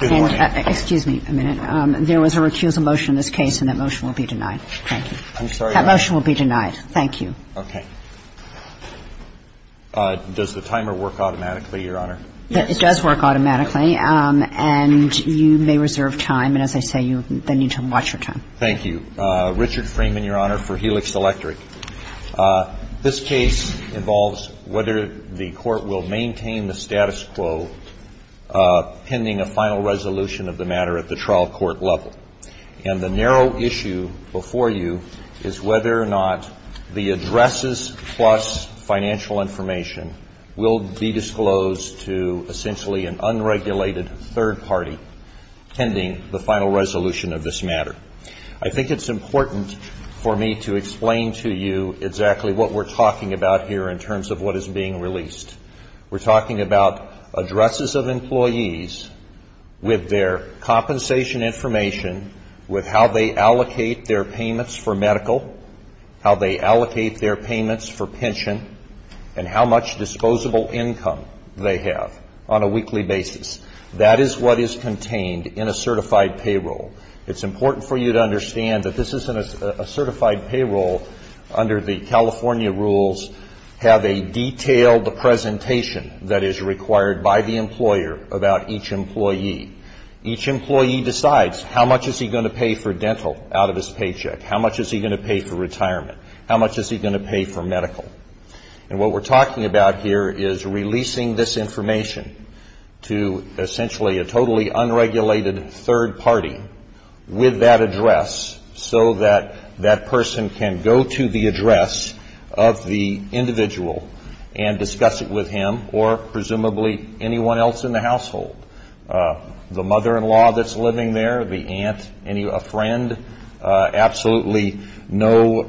There was a recusal motion in this case, and that motion will be denied. Thank you. Does the timer work automatically, Your Honor? It does work automatically, and you may reserve time, and as I say, you need to watch your time. Thank you. Richard Freeman, Your Honor, for Helix Electric. This case involves whether the court will maintain the status quo pending a final resolution of the matter at the trial court level. And the narrow issue before you is whether or not the addresses plus financial information will be disclosed to essentially an unregulated third party pending the final resolution of this matter. I think it's important for me to explain to you exactly what we're talking about here in terms of what is being released. We're talking about addresses of employees with their compensation information, with how they allocate their payments for medical, how they allocate their payments for pension, and how much disposable income they have on a weekly basis. That is what is contained in a certified payroll. It's important for you to understand that this is a certified payroll under the California rules have a detailed presentation that is required by the employer about each employee. Each employee decides how much is he going to pay for dental out of his paycheck, how much is he going to pay for retirement, And what we're talking about here is releasing this information to essentially a totally unregulated third party with that address so that that person can go to the address of the individual and discuss it with him or presumably anyone else in the household. The mother-in-law that's living there, the aunt, a friend, absolutely no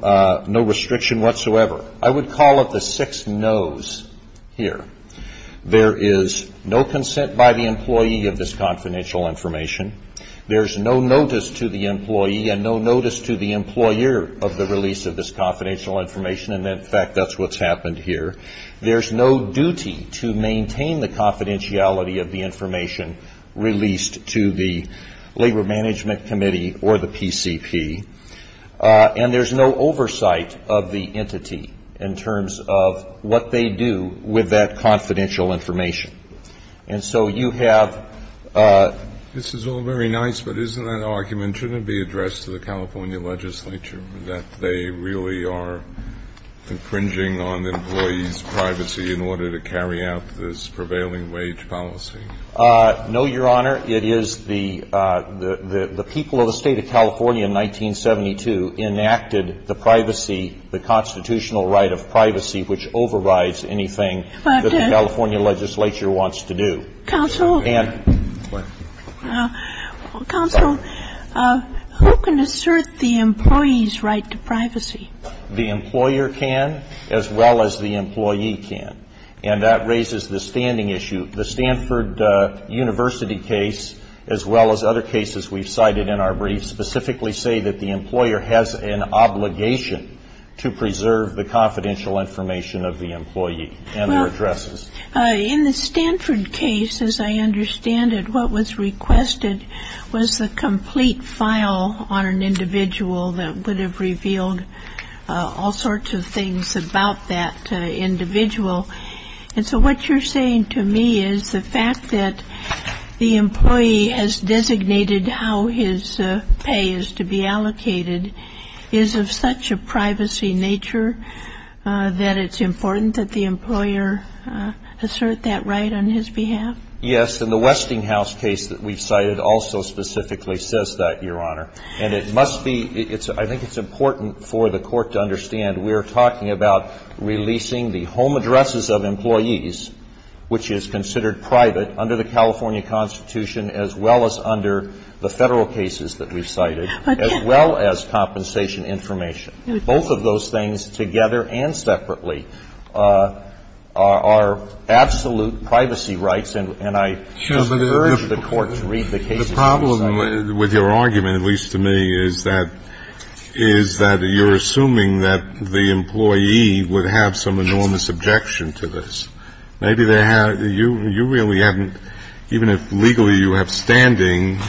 restriction whatsoever. I would call it the six no's here. There is no consent by the employee of this confidential information. There's no notice to the employee and no notice to the employer of the release of this confidential information. And, in fact, that's what's happened here. There's no duty to maintain the confidentiality of the information released to the Labor Management Committee or the PCP. And there's no oversight of the entity in terms of what they do with that confidential information. And so you have This is all very nice, but isn't that argument shouldn't be addressed to the California legislature, that they really are infringing on employees' privacy in order to carry out this prevailing wage policy? No, Your Honor. It is the people of the State of California in 1972 enacted the privacy, the constitutional right of privacy which overrides anything that the California legislature wants to do. Counsel, who can assert the employee's right to privacy? The employer can as well as the employee can. And that raises the standing issue. The Stanford University case as well as other cases we've cited in our briefs specifically say that the employer has an obligation to preserve the confidential information of the employee and their addresses. In the Stanford case, as I understand it, what was requested was a complete file on an individual that would have revealed all sorts of things about that individual. And so what you're saying to me is the fact that the employee has designated how his pay is to be allocated is of such a privacy nature that it's important that the employer assert that right on his behalf? Yes. And the Westinghouse case that we've cited also specifically says that, Your Honor. And it must be, I think it's important for the Court to understand, we are talking about releasing the home addresses of employees, which is considered private under the California Constitution as well as under the Federal cases that we've cited, as well as compensation information. Both of those things together and separately are absolute privacy rights. The problem with your argument, at least to me, is that you're assuming that the employee would have some enormous objection to this. Maybe you really haven't, even if legally you have standing,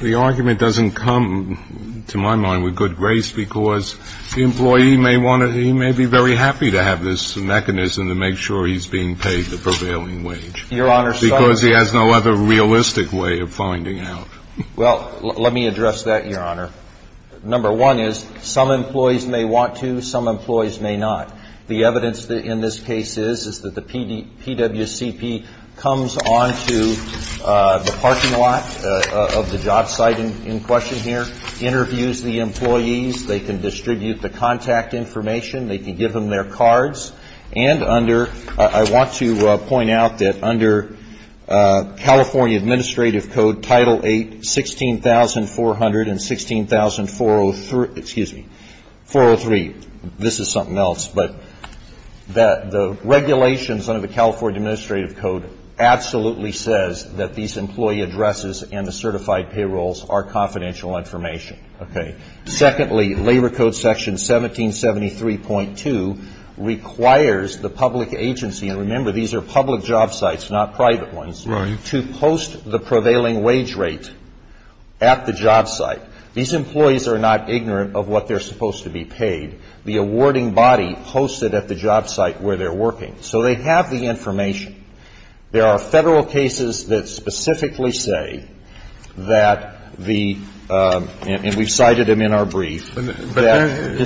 the argument doesn't come to my mind with good grace because the employee may want to, he may be very happy to have this mechanism to make sure he's being paid the prevailing wage. Because he has no other realistic way of finding out. Well, let me address that, Your Honor. Number one is some employees may want to, some employees may not. The evidence in this case is that the PWCP comes on to the parking lot of the job site in question here, interviews the employees, they can distribute the contact information, they can give them their cards, and under, I want to point out that under California Administrative Code Title 8, 16,400 and 16,403, excuse me, 403, this is something else, but the regulations under the California Administrative Code absolutely says that these employee addresses and the certified payrolls are confidential information. Okay. Secondly, Labor Code Section 1773.2 requires the public agency, and remember, these are public job sites, not private ones, to post the prevailing wage rate at the job site. These employees are not ignorant of what they're supposed to be paid. The awarding body posts it at the job site where they're working. So they have the information. There are Federal cases that specifically say that the, and we've cited them in our brief, that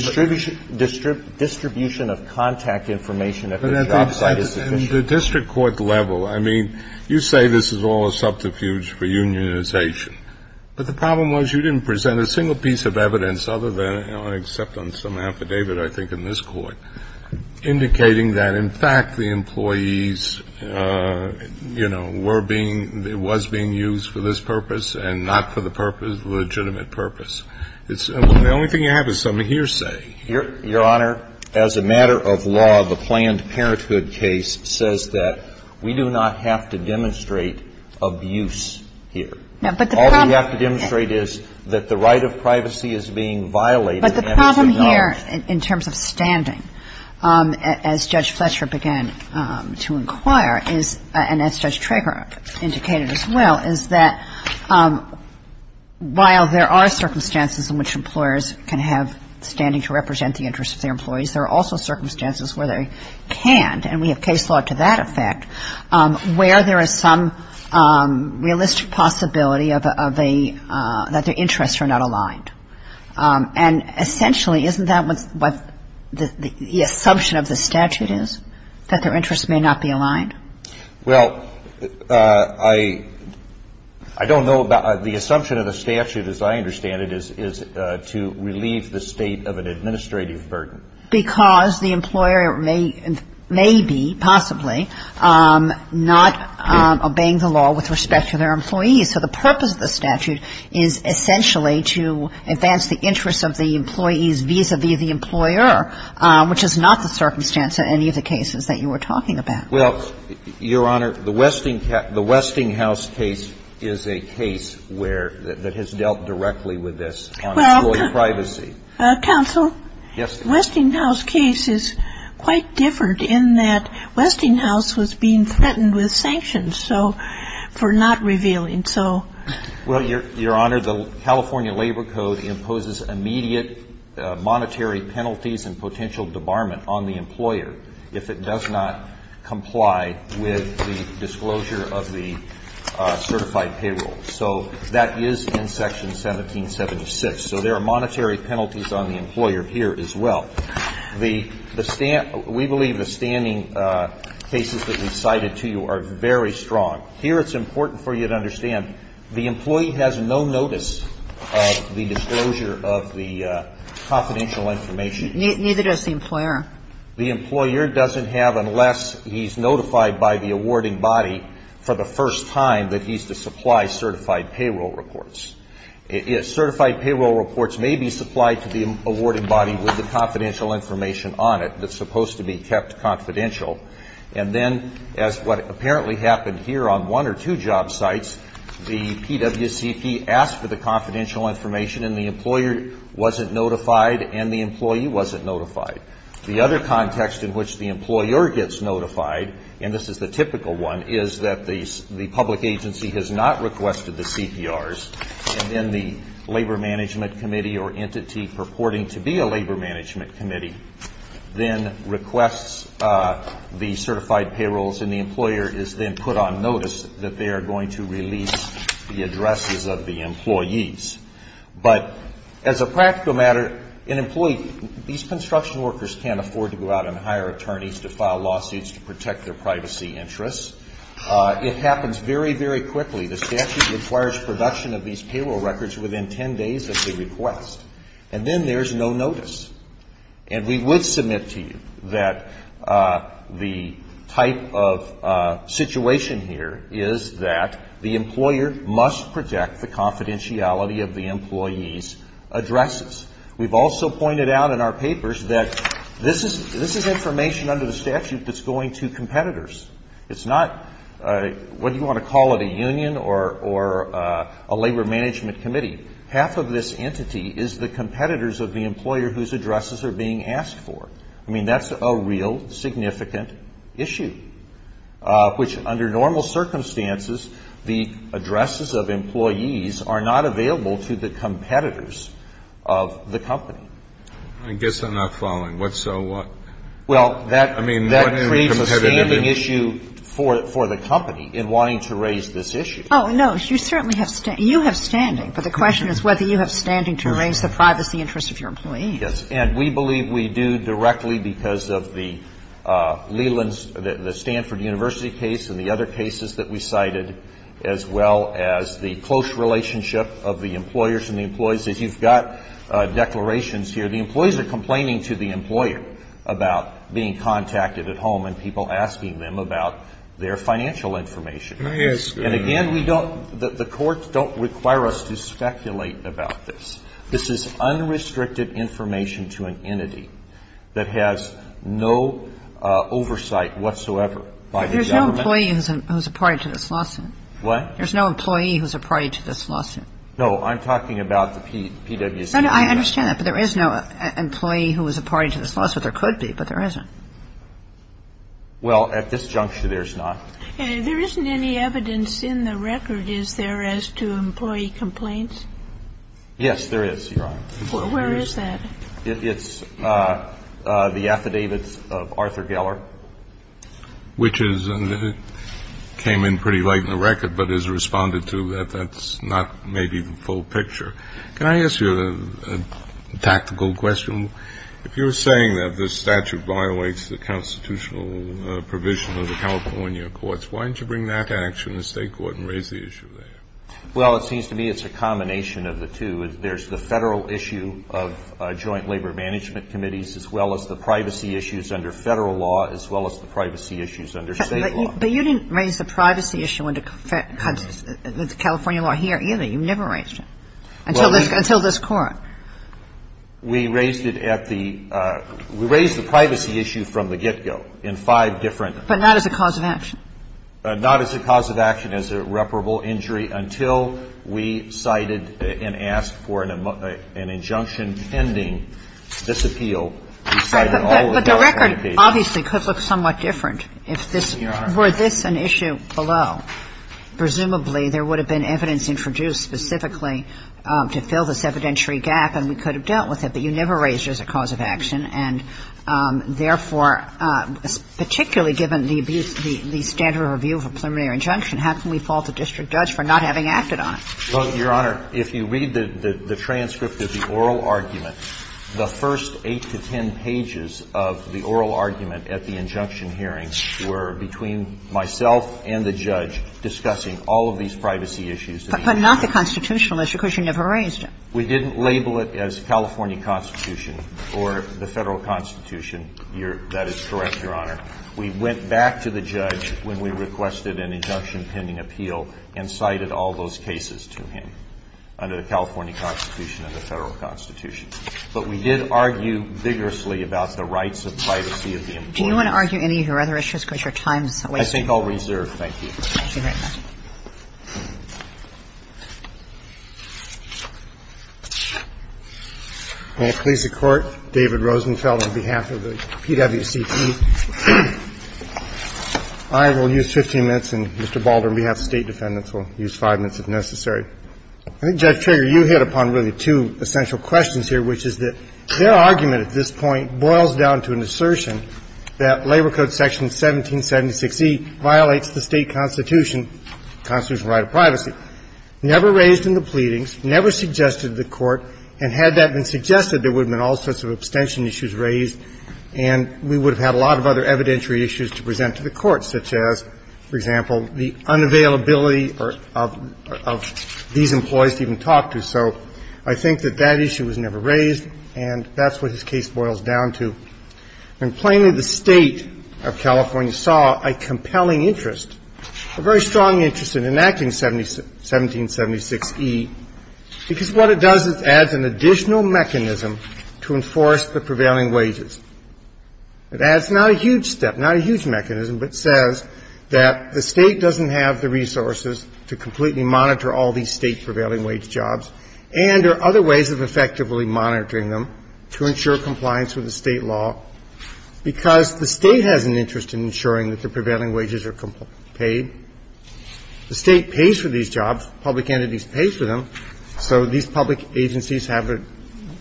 distribution of contact information at the job site is sufficient. The district court level, I mean, you say this is all a subterfuge for unionization, but the problem was you didn't present a single piece of evidence other than, except on some affidavit I think in this Court, indicating that, in fact, the employees, you know, were being, was being used for this purpose and not for the purpose, legitimate purpose. The only thing you have is some hearsay. Your Honor, as a matter of law, the Planned Parenthood case says that we do not have to demonstrate abuse here. All we have to demonstrate is that the right of privacy is being violated. But the problem here in terms of standing, as Judge Fletcher began to inquire, and as Judge Trager indicated as well, is that while there are circumstances in which employers can have standing to represent the interests of their employees, there are also circumstances where they can't, and we have case law to that effect, where there is some realistic possibility of a, that their interests are not aligned. And essentially, isn't that what the assumption of the statute is, that their interests may not be aligned? Well, I don't know about, the assumption of the statute, as I understand it, is to relieve the State of an administrative burden. Because the employer may be, possibly, not obeying the law with respect to their employees. So the purpose of the statute is essentially to advance the interests of the employees vis-à-vis the employer, which is not the circumstance in any of the cases that you were talking about. Well, Your Honor, the Westinghouse case is a case where, that has dealt directly with this on employee privacy. Counsel? Yes. The Westinghouse case is quite different in that Westinghouse was being threatened with sanctions, so, for not revealing, so. Well, Your Honor, the California Labor Code imposes immediate monetary penalties and potential debarment on the employer if it does not comply with the disclosure of the certified payroll. So that is in Section 1776. So there are monetary penalties on the employer here as well. We believe the standing cases that we cited to you are very strong. Here it's important for you to understand the employee has no notice of the disclosure of the confidential information. Neither does the employer. The employer doesn't have unless he's notified by the awarding body for the first time that he's to supply certified payroll reports. Certified payroll reports may be supplied to the awarding body with the confidential information on it that's supposed to be kept confidential. And then, as what apparently happened here on one or two job sites, the PWCP asked for the confidential information and the employer wasn't notified and the employee wasn't notified. The other context in which the employer gets notified, and this is the typical one, is that the public agency has not requested the CPRs and then the labor management committee or entity purporting to be a labor management committee then requests the certified payrolls and the employer is then put on notice that they are going to release the addresses of the employees. But as a practical matter, these construction workers can't afford to go out and hire attorneys to file lawsuits to protect their privacy interests. It happens very, very quickly. The statute requires production of these payroll records within ten days of the request. And then there's no notice. And we would submit to you that the type of situation here is that the employer must protect the confidentiality of the employee's addresses. We've also pointed out in our papers that this is information under the statute that's going to competitors. It's not what you want to call it, a union or a labor management committee. Half of this entity is the competitors of the employer whose addresses are being asked for. I mean, that's a real significant issue, which under normal circumstances, the addresses of employees are not available to the competitors of the company. I guess I'm not following. What's so what? Well, that creates a standing issue for the company in wanting to raise this issue. Oh, no. You certainly have standing. You have standing. But the question is whether you have standing to raise the privacy interests of your employees. Yes. And we believe we do directly because of the Leland's, the Stanford University case and the other cases that we cited, as well as the close relationship of the employers and the employees. As you've got declarations here, the employees are complaining to the employer about being contacted at home and people asking them about their financial information. Yes. And again, we don't the courts don't require us to speculate about this. This is unrestricted information to an entity that has no oversight whatsoever by the government. There's no employee who's a party to this lawsuit. What? There's no employee who's a party to this lawsuit. No, I'm talking about the PWC. No, no. I understand that. But there is no employee who is a party to this lawsuit. There could be, but there isn't. Well, at this juncture, there's not. There isn't any evidence in the record, is there, as to employee complaints? Yes, there is, Your Honor. Where is that? It's the affidavits of Arthur Geller. Which is, and it came in pretty late in the record, but is responded to that that's not maybe the full picture. Can I ask you a tactical question? If you're saying that this statute violates the constitutional provision of the California courts, why didn't you bring that to action in the state court and raise the issue there? Well, it seems to me it's a combination of the two. There's the federal issue of joint labor management committees, as well as the privacy issues under federal law, as well as the privacy issues under state law. But you didn't raise the privacy issue under California law here, either. You never raised it. Until this court. We raised it at the, we raised the privacy issue from the get-go in five different. But not as a cause of action. Not as a cause of action, as a reparable injury, until we cited and asked for an injunction pending this appeal. But the record obviously could look somewhat different if this, were this an issue below. Presumably there would have been evidence introduced specifically to fill this evidentiary gap, and we could have dealt with it. But you never raised it as a cause of action. And, therefore, particularly given the abuse, the standard of review of a preliminary injunction, how can we fault a district judge for not having acted on it? Well, Your Honor, if you read the transcript of the oral argument, the first 8 to 10 pages of the oral argument at the injunction hearing were between myself and the judge discussing all of these privacy issues. But not the constitutional issue, because you never raised it. We didn't label it as California constitution or the federal constitution. That is correct, Your Honor. We went back to the judge when we requested an injunction pending appeal and cited all those cases to him under the California constitution and the federal constitution. But we did argue vigorously about the rights of privacy of the employee. Do you want to argue any of your other issues, because your time is wasting? I think I'll reserve. Thank you very much. I will use 15 minutes, and Mr. Balder, on behalf of State defendants, will use 5 minutes if necessary. I think, Judge Trigger, you hit upon really two essential questions here, which is that their argument at this point boils down to an assertion that Labor Code Section 1776E violates the State constitution, constitutional right of privacy. Never raised in the pleadings, never suggested to the Court, and had that been suggested, there would have been all sorts of abstention issues raised, and we would have had a lot of other evidentiary issues to present to the Court, such as, for example, the unavailability of these employees to even talk to. So I think that that issue was never raised, and that's what this case boils down to. And plainly, the State of California saw a compelling interest, a very strong interest in enacting 1776E, because what it does is adds an additional mechanism to enforce the prevailing wages. It adds not a huge step, not a huge mechanism, but says that the State doesn't have the resources to completely monitor all these State prevailing wage jobs, and there are other ways of effectively monitoring them to ensure compliance with the State law, because the State has an interest in ensuring that the prevailing wages are paid. The State pays for these jobs. Public entities pay for them. So these public agencies have a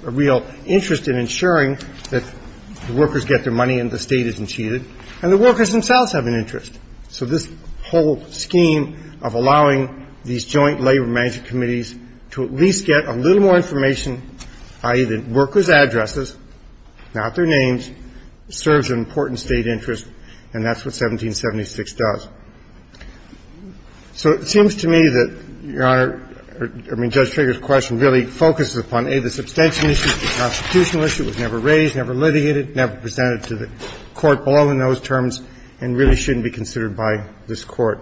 real interest in ensuring that the workers get their money and the State isn't cheated, and the workers themselves have an interest. So this whole scheme of allowing these joint labor management committees to at least get a little more information, i.e., the workers' addresses, not their names, serves an important State interest, and that's what 1776 does. So it seems to me that, Your Honor, I mean, Judge Trigger's question really focuses upon, A, the substantial issue, the constitutional issue was never raised, never litigated, never presented to the Court below in those terms, and really shouldn't be considered by this Court.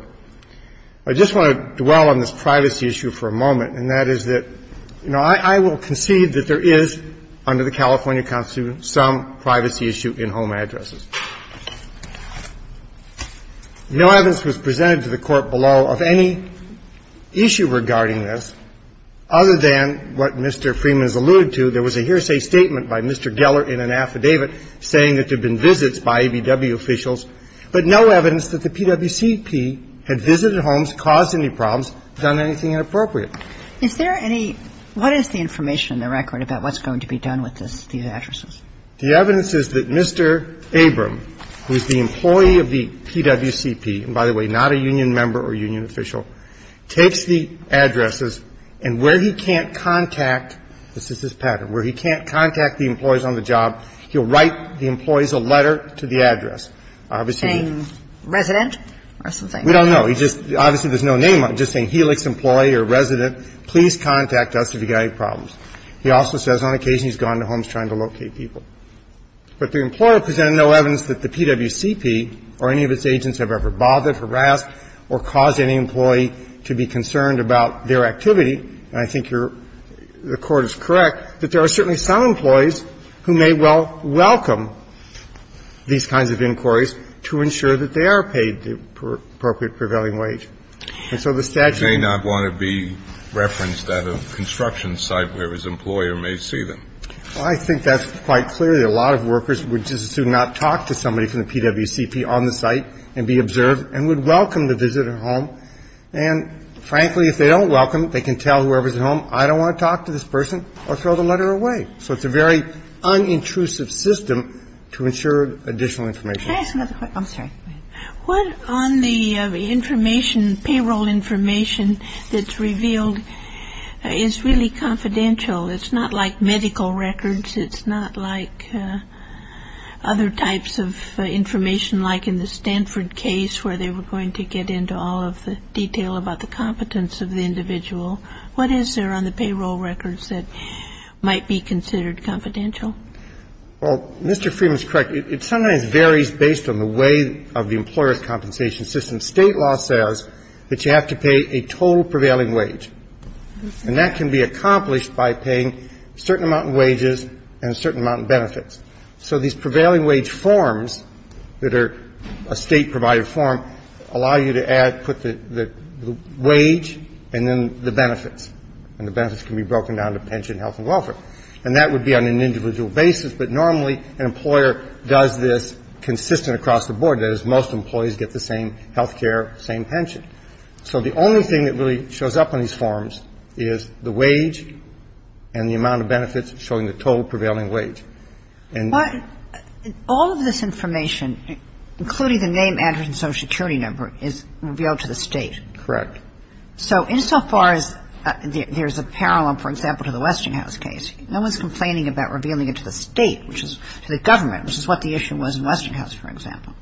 I just want to dwell on this privacy issue for a moment, and that is that, you know, I will concede that there is, under the California Constitution, some privacy issue in home addresses. No evidence was presented to the Court below of any issue regarding this other than what Mr. Freeman has alluded to. There was a hearsay statement by Mr. Geller in an affidavit saying that there had been visits by ABW officials, but no evidence that the PWCP had visited homes, caused any problems, done anything inappropriate. Is there any – what is the information in the record about what's going to be done with these addresses? The evidence is that Mr. Abram, who is the employee of the PWCP, and by the way, not a union member or union official, takes the addresses, and where he can't contact – this is his pattern – where he can't contact the employees on the job, he'll write the employees a letter to the address. Obviously, he didn't. Saying resident or something? We don't know. He just – obviously, there's no name on it. Just saying Helix employee or resident. Please contact us if you've got any problems. He also says on occasion he's gone to homes trying to locate people. But the employer presented no evidence that the PWCP or any of its agents have ever bothered, harassed, or caused any employee to be concerned about their activity. And I think you're – the Court is correct that there are certainly some employees who may well welcome these kinds of inquiries to ensure that they are paid the appropriate prevailing wage. And so the statute – They may not want to be referenced at a construction site where his employer may see them. Well, I think that's quite clear that a lot of workers would just as soon not talk to somebody from the PWCP on the site and be observed and would welcome the visit at home. And frankly, if they don't welcome it, they can tell whoever's at home, I don't want to talk to this person or throw the letter away. So it's a very unintrusive system to ensure additional information. Can I ask another question? I'm sorry. What on the information, payroll information that's revealed is really confidential? It's not like medical records. It's not like other types of information like in the Stanford case where they were going to get into all of the detail about the competence of the individual. What is there on the payroll records that might be considered confidential? Well, Mr. Freeman's correct. It sometimes varies based on the way of the employer's compensation system. State law says that you have to pay a total prevailing wage. And that can be accomplished by paying a certain amount in wages and a certain amount in benefits. So these prevailing wage forms that are a State-provided form allow you to add, put the wage and then the benefits. And the benefits can be broken down to pension, health and welfare. And that would be on an individual basis. But normally an employer does this consistent across the board. That is, most employees get the same health care, same pension. So the only thing that really shows up on these forms is the wage and the amount of benefits showing the total prevailing wage. But all of this information, including the name, address and Social Security number, is revealed to the State. Correct. So insofar as there's a parallel, for example, to the Western House case, no one's complaining about revealing it to the State, which is to the government, which is what the issue was in Western House, for example.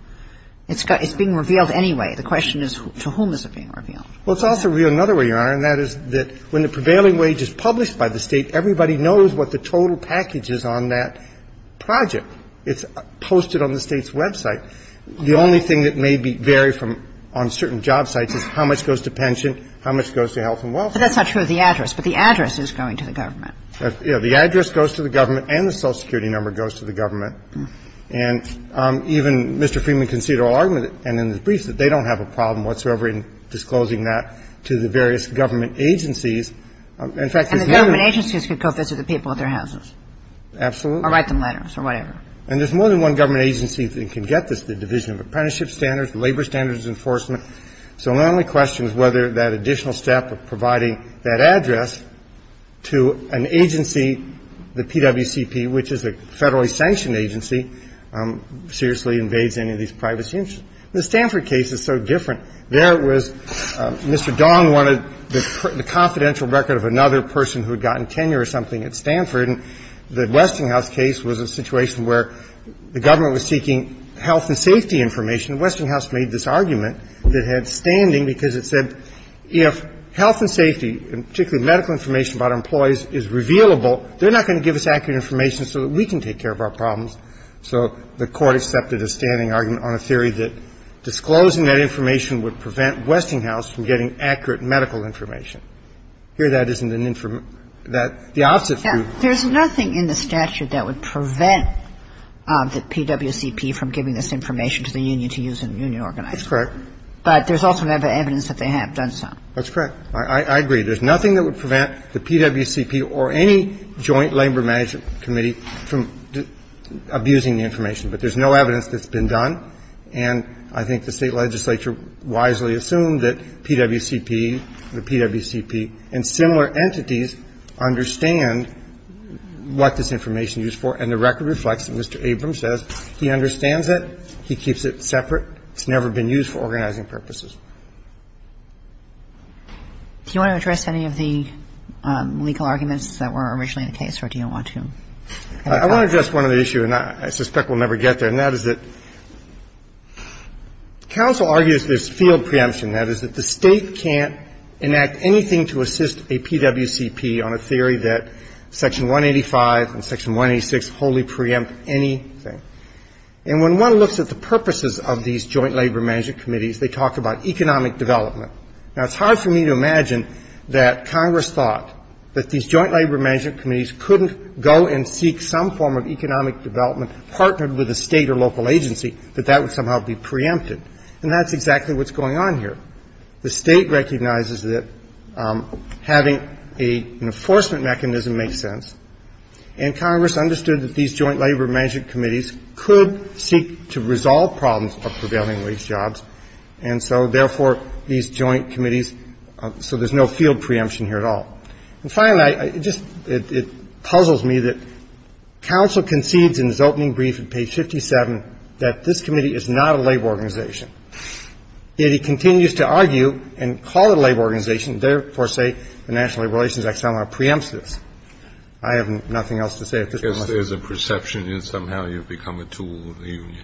It's being revealed anyway. The question is to whom is it being revealed? Well, it's also revealed another way, Your Honor, and that is that when the prevailing wage is published by the State, everybody knows what the total package is on that project. It's posted on the State's website. The only thing that may vary on certain job sites is how much goes to pension, how much goes to health and welfare. But that's not true of the address. But the address is going to the government. The address goes to the government and the Social Security number goes to the government. And even Mr. Freeman conceded all argument and in his briefs that they don't have a problem whatsoever in disclosing that to the various government agencies. In fact, there's no one. And the government agencies could go visit the people at their houses. Absolutely. Or write them letters or whatever. And there's more than one government agency that can get this, the Division of Apprenticeship Standards, the Labor Standards Enforcement. So my only question is whether that additional step of providing that address to an agency, the PWCP, which is a federally sanctioned agency, seriously invades any of these privacy interests. The Stanford case is so different. There it was Mr. Dong wanted the confidential record of another person who had gotten tenure or something at Stanford. The Westinghouse case was a situation where the government was seeking health and safety information. Westinghouse made this argument that had standing because it said if health and safety, particularly medical information about employees, is revealable, they're not going to give us accurate information so that we can take care of our problems. So the Court accepted a standing argument on a theory that disclosing that information would prevent Westinghouse from getting accurate medical information. Here that isn't an information that the opposite view. There's nothing in the statute that would prevent the PWCP from giving this information to the union to use in union organizing. That's correct. But there's also evidence that they have done so. That's correct. I agree. There's nothing that would prevent the PWCP or any joint labor management committee from abusing the information. But there's no evidence that's been done. And I think the State legislature wisely assumed that PWCP, the PWCP, and similar entities understand what this information is used for, and the record reflects what Mr. Abrams says. He understands it. He keeps it separate. It's never been used for organizing purposes. Do you want to address any of the legal arguments that were originally in the case, or do you want to? I want to address one other issue, and I suspect we'll never get there, and that is that counsel argues there's field preemption. That is that the State can't enact anything to assist a PWCP on a theory that Section 185 and Section 186 wholly preempt anything. And when one looks at the purposes of these joint labor management committees, they talk about economic development. Now, it's hard for me to imagine that Congress thought that these joint labor management committees couldn't go and seek some form of economic development partnered with a State or local agency, that that would somehow be preempted. And that's exactly what's going on here. The State recognizes that having an enforcement mechanism makes sense, and Congress understood that these joint labor management committees could seek to resolve problems of prevailing wage jobs. And so, therefore, these joint committees, so there's no field preemption here at all. And finally, I just, it puzzles me that counsel concedes in his opening brief at page 57 that this committee is not a labor organization. Yet he continues to argue and call it a labor organization, and therefore say the National Labor Relations Act somehow preempts this. I have nothing else to say at this point. Kennedy. I guess there's a perception that somehow you've become a tool of the union.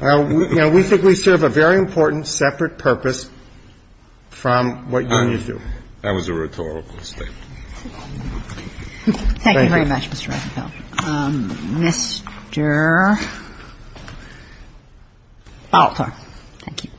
Well, you know, we think we serve a very important separate purpose from what unions do. That was a rhetorical statement. Thank you. Thank you very much, Mr. Ritenfeld. Thank you.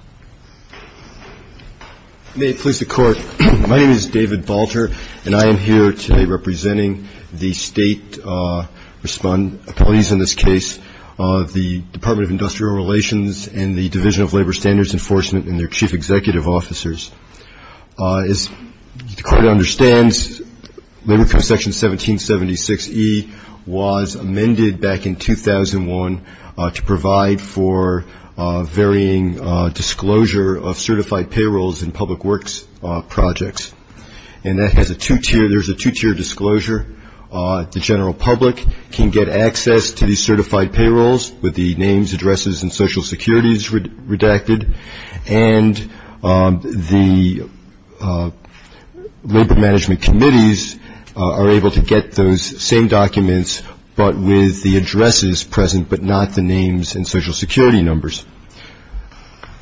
May it please the Court. My name is David Balter, and I am here today representing the state police in this case, the Department of Industrial Relations and the Division of Labor Standards Enforcement and their chief executive officers. As the Court understands, labor code section 1776E was amended back in 2001 to provide for varying disclosure of certified payrolls in public works projects. And that has a two-tier, there's a two-tier disclosure. The general public can get access to these certified payrolls with the names, addresses, and social securities redacted, and the labor management committees are able to get those same documents but with the addresses present but not the names and social security numbers.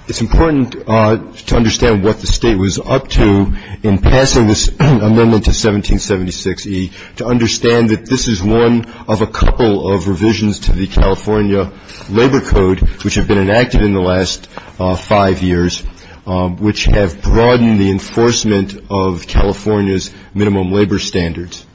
It's important to understand what the state was up to in passing this amendment to 1776E, to understand that this is one of a couple of revisions to the California Labor Code, which have been enacted in the last five years, which have broadened the enforcement of California's minimum labor standards.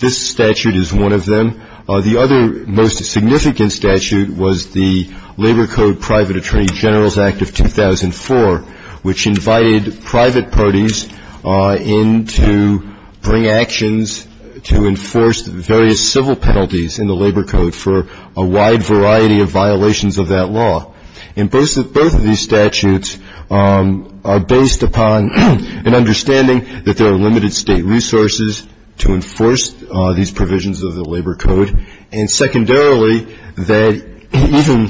This statute is one of them. The other most significant statute was the Labor Code Private Attorney General's Act of 2004, which invited private parties in to bring actions to enforce various civil penalties in the labor code for a wide variety of violations of that law. And both of these statutes are based upon an understanding that there are limited state resources to enforce these provisions of the labor code, and secondarily that even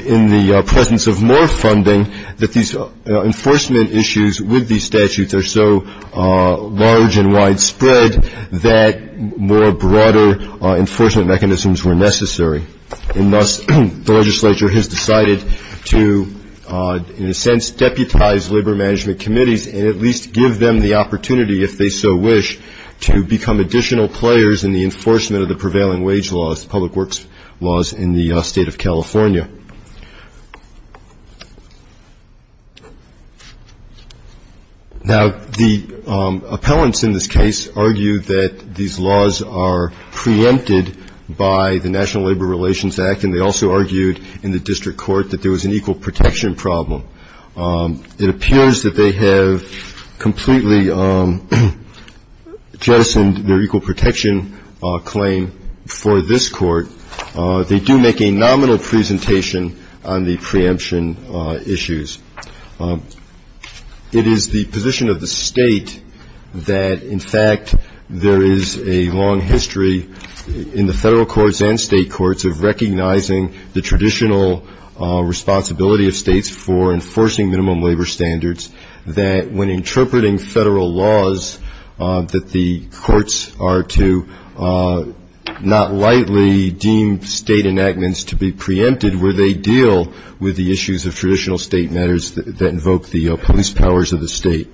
in the presence of more funding that these enforcement issues with these statutes are so large and widespread that more broader enforcement mechanisms were necessary. And thus the legislature has decided to, in a sense, deputize labor management committees and at least give them the opportunity, if they so wish, to become additional players in the enforcement of the prevailing wage laws, public works laws in the state of California. Now, the appellants in this case argue that these laws are preempted by the National Labor Relations Act, and they also argued in the district court that there was an equal protection problem. It appears that they have completely jettisoned their equal protection claim for this court. They do make a nominal presentation on the preemption issues. It is the position of the state that, in fact, there is a long history in the federal courts and state courts of recognizing the traditional responsibility of states for enforcing minimum labor standards that when interpreting federal laws that the courts are to not lightly deem state enactments to be preempted where they deal with the issues of traditional state matters that invoke the police powers of the state.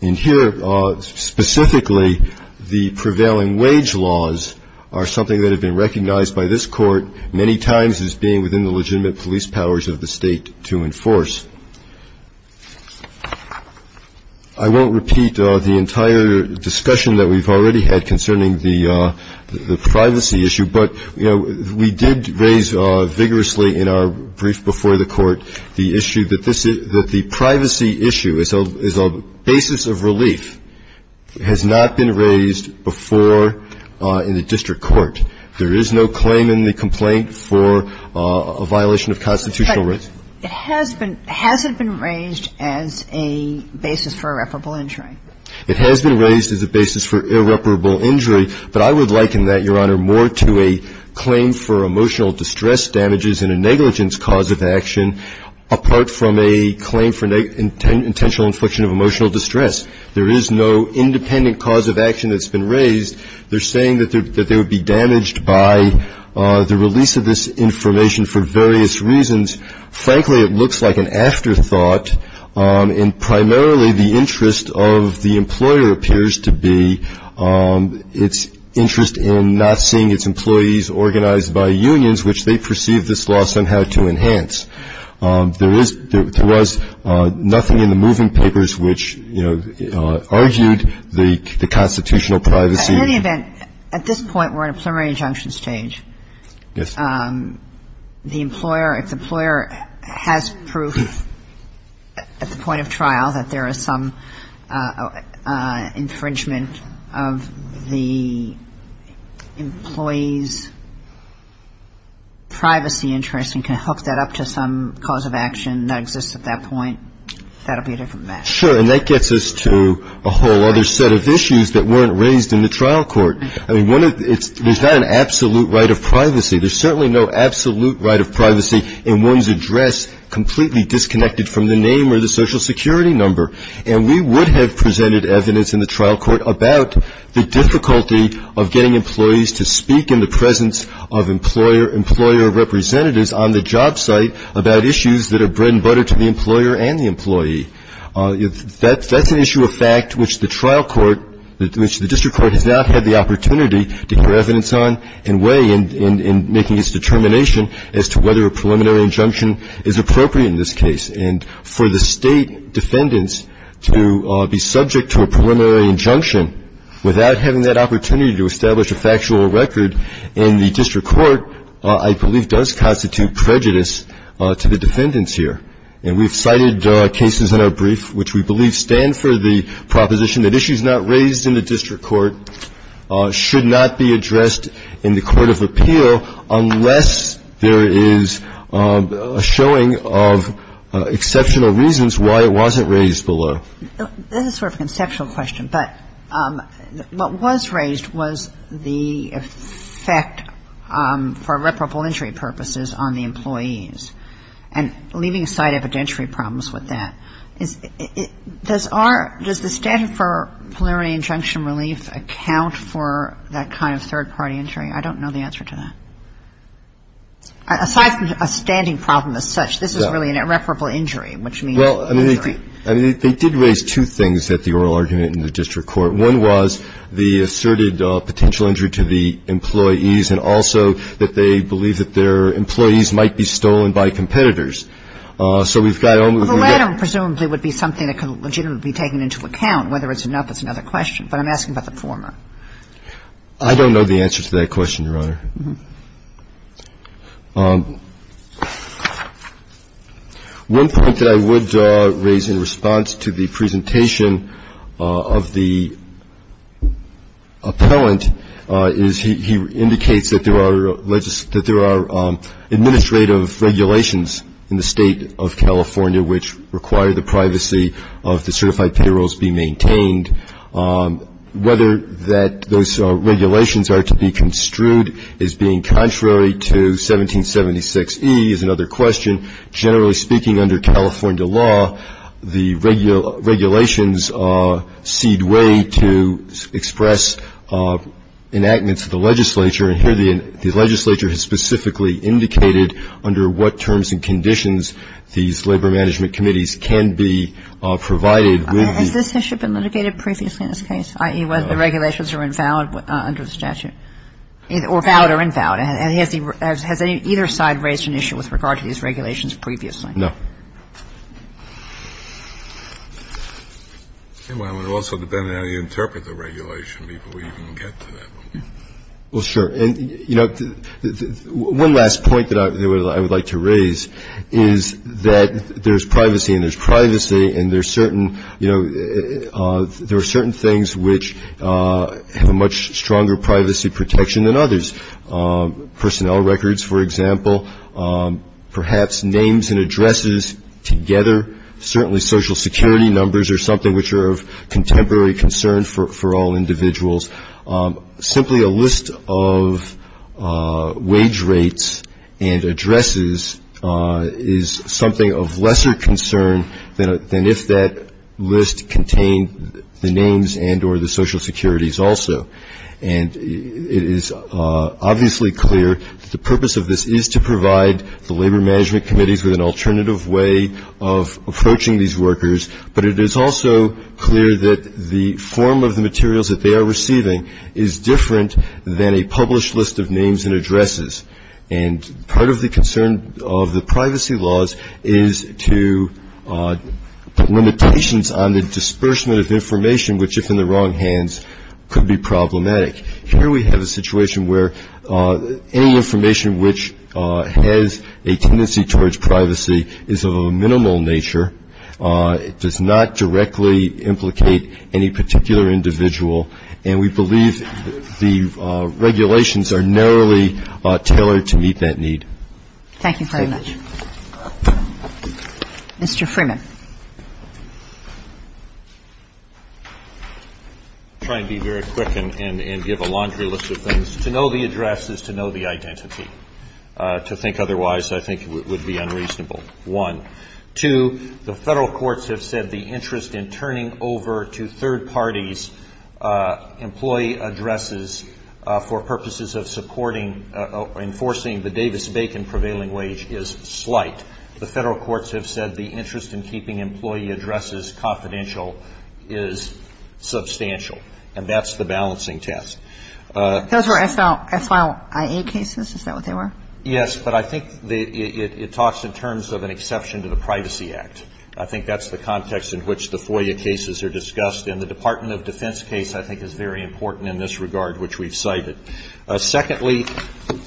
And here, specifically, the prevailing wage laws are something that have been recognized by this court many times as being within the legitimate police powers of the state to enforce. I won't repeat the entire discussion that we've already had concerning the privacy issue, but we did raise vigorously in our brief before the court the issue that the privacy issue is a basis of relief, has not been raised before in the district court. There is no claim in the complaint for a violation of constitutional rights. But has it been raised as a basis for irreparable injury? It has been raised as a basis for irreparable injury, but I would liken that, Your Honor, more to a claim for emotional distress damages and a negligence cause of action, apart from a claim for intentional infliction of emotional distress. There is no independent cause of action that's been raised. They're saying that they would be damaged by the release of this information for various reasons. Frankly, it looks like an afterthought, and primarily the interest of the employer appears to be its interest in not seeing its employees organized by unions, which they perceive this law somehow to enhance. There was nothing in the moving papers which, you know, argued the constitutional privacy. In any event, at this point we're in a preliminary injunction stage. Yes. The employer, if the employer has proof at the point of trial that there is some infringement of the employee's privacy interest and can hook that up to some cause of action that exists at that point, that will be a different matter. Sure. And that gets us to a whole other set of issues that weren't raised in the trial court. I mean, there's not an absolute right of privacy. There's certainly no absolute right of privacy in one's address completely disconnected from the name or the social security number. And we would have presented evidence in the trial court about the difficulty of getting employees to speak in the presence of employer representatives on the job site about issues that are bread and butter to the employer and the employee. That's an issue of fact which the trial court, which the district court has not had the opportunity to get evidence on and weigh in making its determination as to whether a preliminary injunction is appropriate in this case. And for the state defendants to be subject to a preliminary injunction without having that opportunity to establish a factual record in the district court, I believe does constitute prejudice to the defendants here. And we've cited cases in our brief which we believe stand for the proposition that issues not raised in the district court should not be addressed in the court of appeal unless there is a showing of exceptional reasons why it wasn't raised below. This is sort of a conceptual question, but what was raised was the effect for reparable injury purposes on the employees and leaving aside evidentiary problems with that. Does the statute for preliminary injunction relief account for that kind of third-party injury? I don't know the answer to that. Aside from a standing problem as such, this is really an irreparable injury, which means injury. Well, I mean, they did raise two things at the oral argument in the district court. One was the asserted potential injury to the employees and also that they believe that their employees might be stolen by competitors. So we've got only one. Well, the latter presumably would be something that could legitimately be taken into account. Whether it's enough is another question, but I'm asking about the former. I don't know the answer to that question, Your Honor. One point that I would raise in response to the presentation of the appellant is he indicates that there are administrative regulations in the state of California which require the privacy of the certified payrolls be maintained. Whether those regulations are to be construed as being contrary to 1776E is another question. Generally speaking, under California law, the regulations cede way to express enactments of the legislature. And here the legislature has specifically indicated under what terms and conditions these labor management committees can be provided. Has this issue been litigated previously in this case, i.e., whether the regulations are invalid under the statute or valid or invalid? And has either side raised an issue with regard to these regulations previously? No. Well, it would also depend on how you interpret the regulation before you even get to that one. Well, sure. And, you know, one last point that I would like to raise is that there's privacy and there's privacy and there's certain, you know, there are certain things which have a much stronger privacy protection than others. Personnel records, for example, perhaps names and addresses together, certainly social security numbers are something which are of contemporary concern for all individuals. Simply a list of wage rates and addresses is something of lesser concern than if that list contained the names and or the social securities also. And it is obviously clear that the purpose of this is to provide the labor management committees with an alternative way of approaching these workers, but it is also clear that the form of the materials that they are receiving is different than a published list of names and addresses. And part of the concern of the privacy laws is to put limitations on the disbursement of information, which if in the wrong hands could be problematic. Here we have a situation where any information which has a tendency towards privacy is of a minimal nature. It does not directly implicate any particular individual. And we believe the regulations are narrowly tailored to meet that need. Thank you very much. Mr. Freeman. I'll try and be very quick and give a laundry list of things. To know the address is to know the identity. To think otherwise, I think, would be unreasonable, one. Two, the Federal courts have said the interest in turning over to third parties employee addresses for purposes of supporting or enforcing the Davis-Bacon prevailing wage is slight. The Federal courts have said the interest in keeping employee addresses confidential is substantial. And that's the balancing test. Those were SLIA cases, is that what they were? Yes, but I think it talks in terms of an exception to the Privacy Act. I think that's the context in which the FOIA cases are discussed, and the Department of Defense case I think is very important in this regard, which we've cited. Secondly,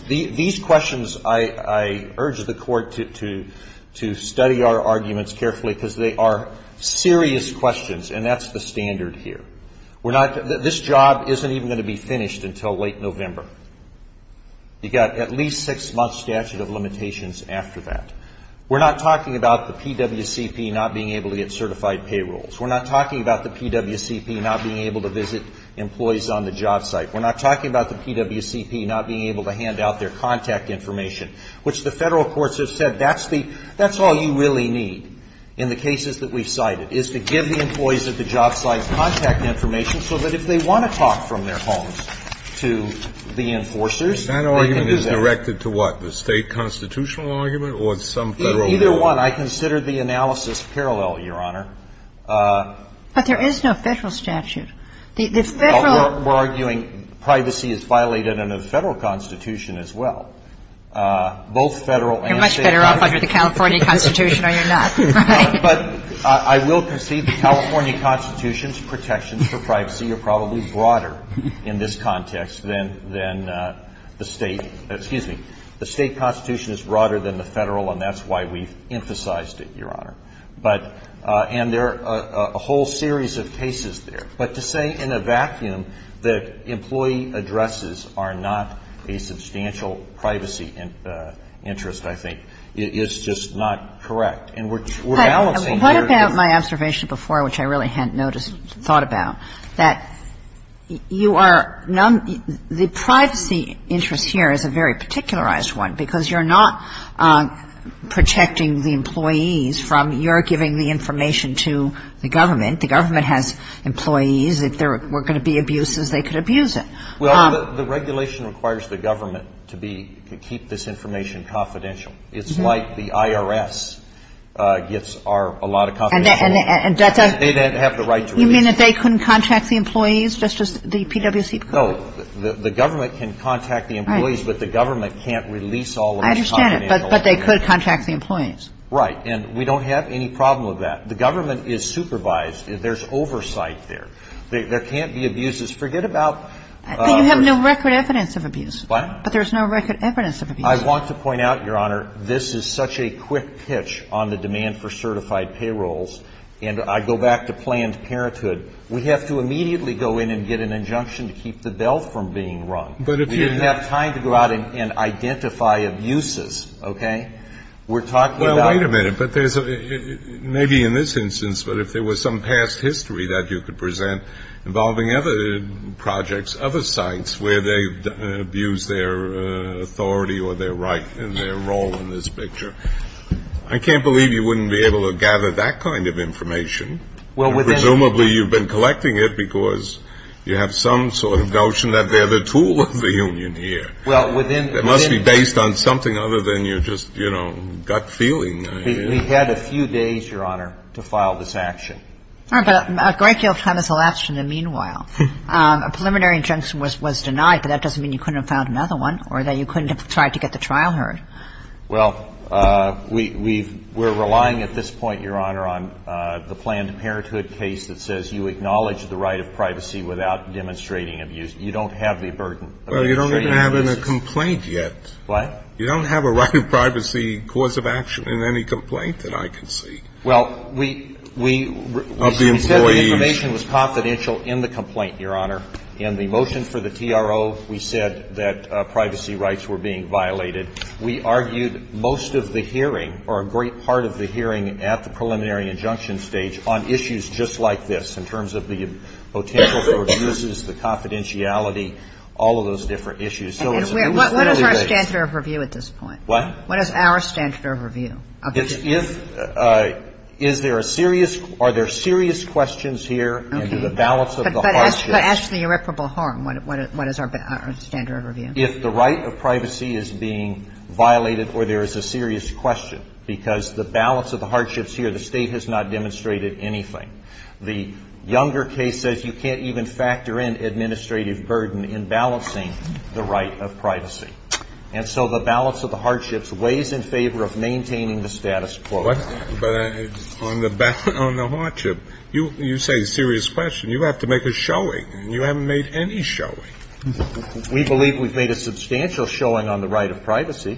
these questions, I urge the court to study our arguments carefully, because they are serious questions, and that's the standard here. This job isn't even going to be finished until late November. You've got at least a six-month statute of limitations after that. We're not talking about the PWCP not being able to get certified payrolls. We're not talking about the PWCP not being able to visit employees on the job site. We're not talking about the PWCP not being able to hand out their contact information, which the Federal courts have said that's the – that's all you really need in the cases that we've cited, is to give the employees at the job site contact information so that if they want to talk from their homes to the enforcers, they can do that. And we've got a lot of cases that have been directed to what? The State constitutional argument or some Federal law? Either one. I consider the analysis parallel, Your Honor. But there is no Federal statute. The Federal – We're arguing privacy is violated under the Federal Constitution as well. Both Federal and State constitutions. You're much better off under the California Constitution or you're not. But I will concede the California Constitution's protections for privacy are probably broader in this context than the State – excuse me. The State Constitution is broader than the Federal, and that's why we've emphasized it, Your Honor. But – and there are a whole series of cases there. But to say in a vacuum that employee addresses are not a substantial privacy interest, I think, is just not correct. And we're balancing here. But what about my observation before, which I really hadn't noticed or thought about, that you are – the privacy interest here is a very particularized one because you're not protecting the employees from your giving the information to the government. The government has employees. If there were going to be abuses, they could abuse it. Well, the regulation requires the government to be – to keep this information confidential. It's like the IRS gets our – a lot of confidential information. And that's a – They then have the right to release it. You mean that they couldn't contact the employees just as the PwC could? No. The government can contact the employees, but the government can't release all of the confidential information. I understand. But they could contact the employees. Right. And we don't have any problem with that. The government is supervised. There's oversight there. There can't be abuses. Forget about – But you have no record evidence of abuse. What? But there's no record evidence of abuse. I want to point out, Your Honor, this is such a quick pitch on the demand for certified payrolls. And I go back to Planned Parenthood. We have to immediately go in and get an injunction to keep the bell from being rung. But if you – We didn't have time to go out and identify abuses. Okay? We're talking about – Well, wait a minute. But there's – maybe in this instance, but if there was some past history that you could present involving other projects, other sites where they've abused their authority or their right and their role in this picture, I can't believe you wouldn't be able to gather that kind of information. Well, within – Presumably you've been collecting it because you have some sort of notion that they're the tool of the union here. Well, within – It must be based on something other than your just, you know, gut feeling. We've had a few days, Your Honor, to file this action. All right. But a great deal of time has elapsed in the meanwhile. A preliminary injunction was denied, but that doesn't mean you couldn't have found another one or that you couldn't have tried to get the trial heard. Well, we've – we're relying at this point, Your Honor, on the Planned Parenthood case that says you acknowledge the right of privacy without demonstrating abuse. You don't have the burden of demonstrating abuse. Well, you don't even have in a complaint yet. What? You don't have a right of privacy cause of action in any complaint that I can see. Well, we – we – Of the employees. We said the information was confidential in the complaint, Your Honor. In the motion for the TRO, we said that privacy rights were being violated. We argued most of the hearing or a great part of the hearing at the preliminary injunction stage on issues just like this in terms of the potential for abuses, the confidentiality, all of those different issues. So it's – What is our standard of review at this point? What? What is our standard of review? It's if – is there a serious – are there serious questions here? Okay. And do the balance of the hardships – But ask the irreparable harm. What is our standard of review? If the right of privacy is being violated or there is a serious question, because the balance of the hardships here, the State has not demonstrated anything. The younger case says you can't even factor in administrative burden in balancing the right of privacy. And so the balance of the hardships weighs in favor of maintaining the status quo. But on the hardship, you say serious question. You have to make a showing. You haven't made any showing. We believe we've made a substantial showing on the right of privacy,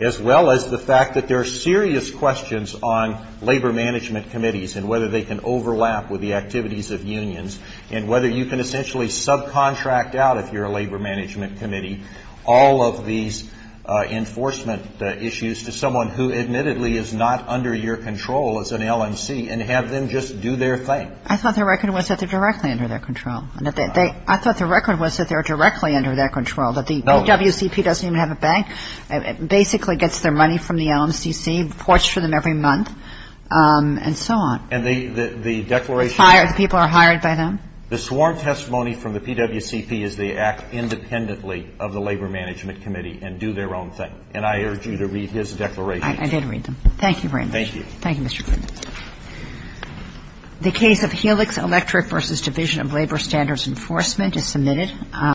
as well as the fact that there are serious questions on labor management committees and whether they can overlap with the activities of unions and whether you can essentially subcontract out if you're a labor management committee all of these enforcement issues to someone who admittedly is not under your control as an LMC and have them just do their thing. I thought the record was that they're directly under their control. I thought the record was that they're directly under their control, that the PWCP doesn't even have a bank, basically gets their money from the LMCC, reports to them every month, and so on. And the declaration – People are hired by them? The sworn testimony from the PWCP is they act independently of the Labor Management Committee and do their own thing. And I urge you to read his declaration. I did read them. Thank you very much. Thank you. Thank you, Mr. Freeman. The case of Helix Electric v. Division of Labor Standards Enforcement is submitted.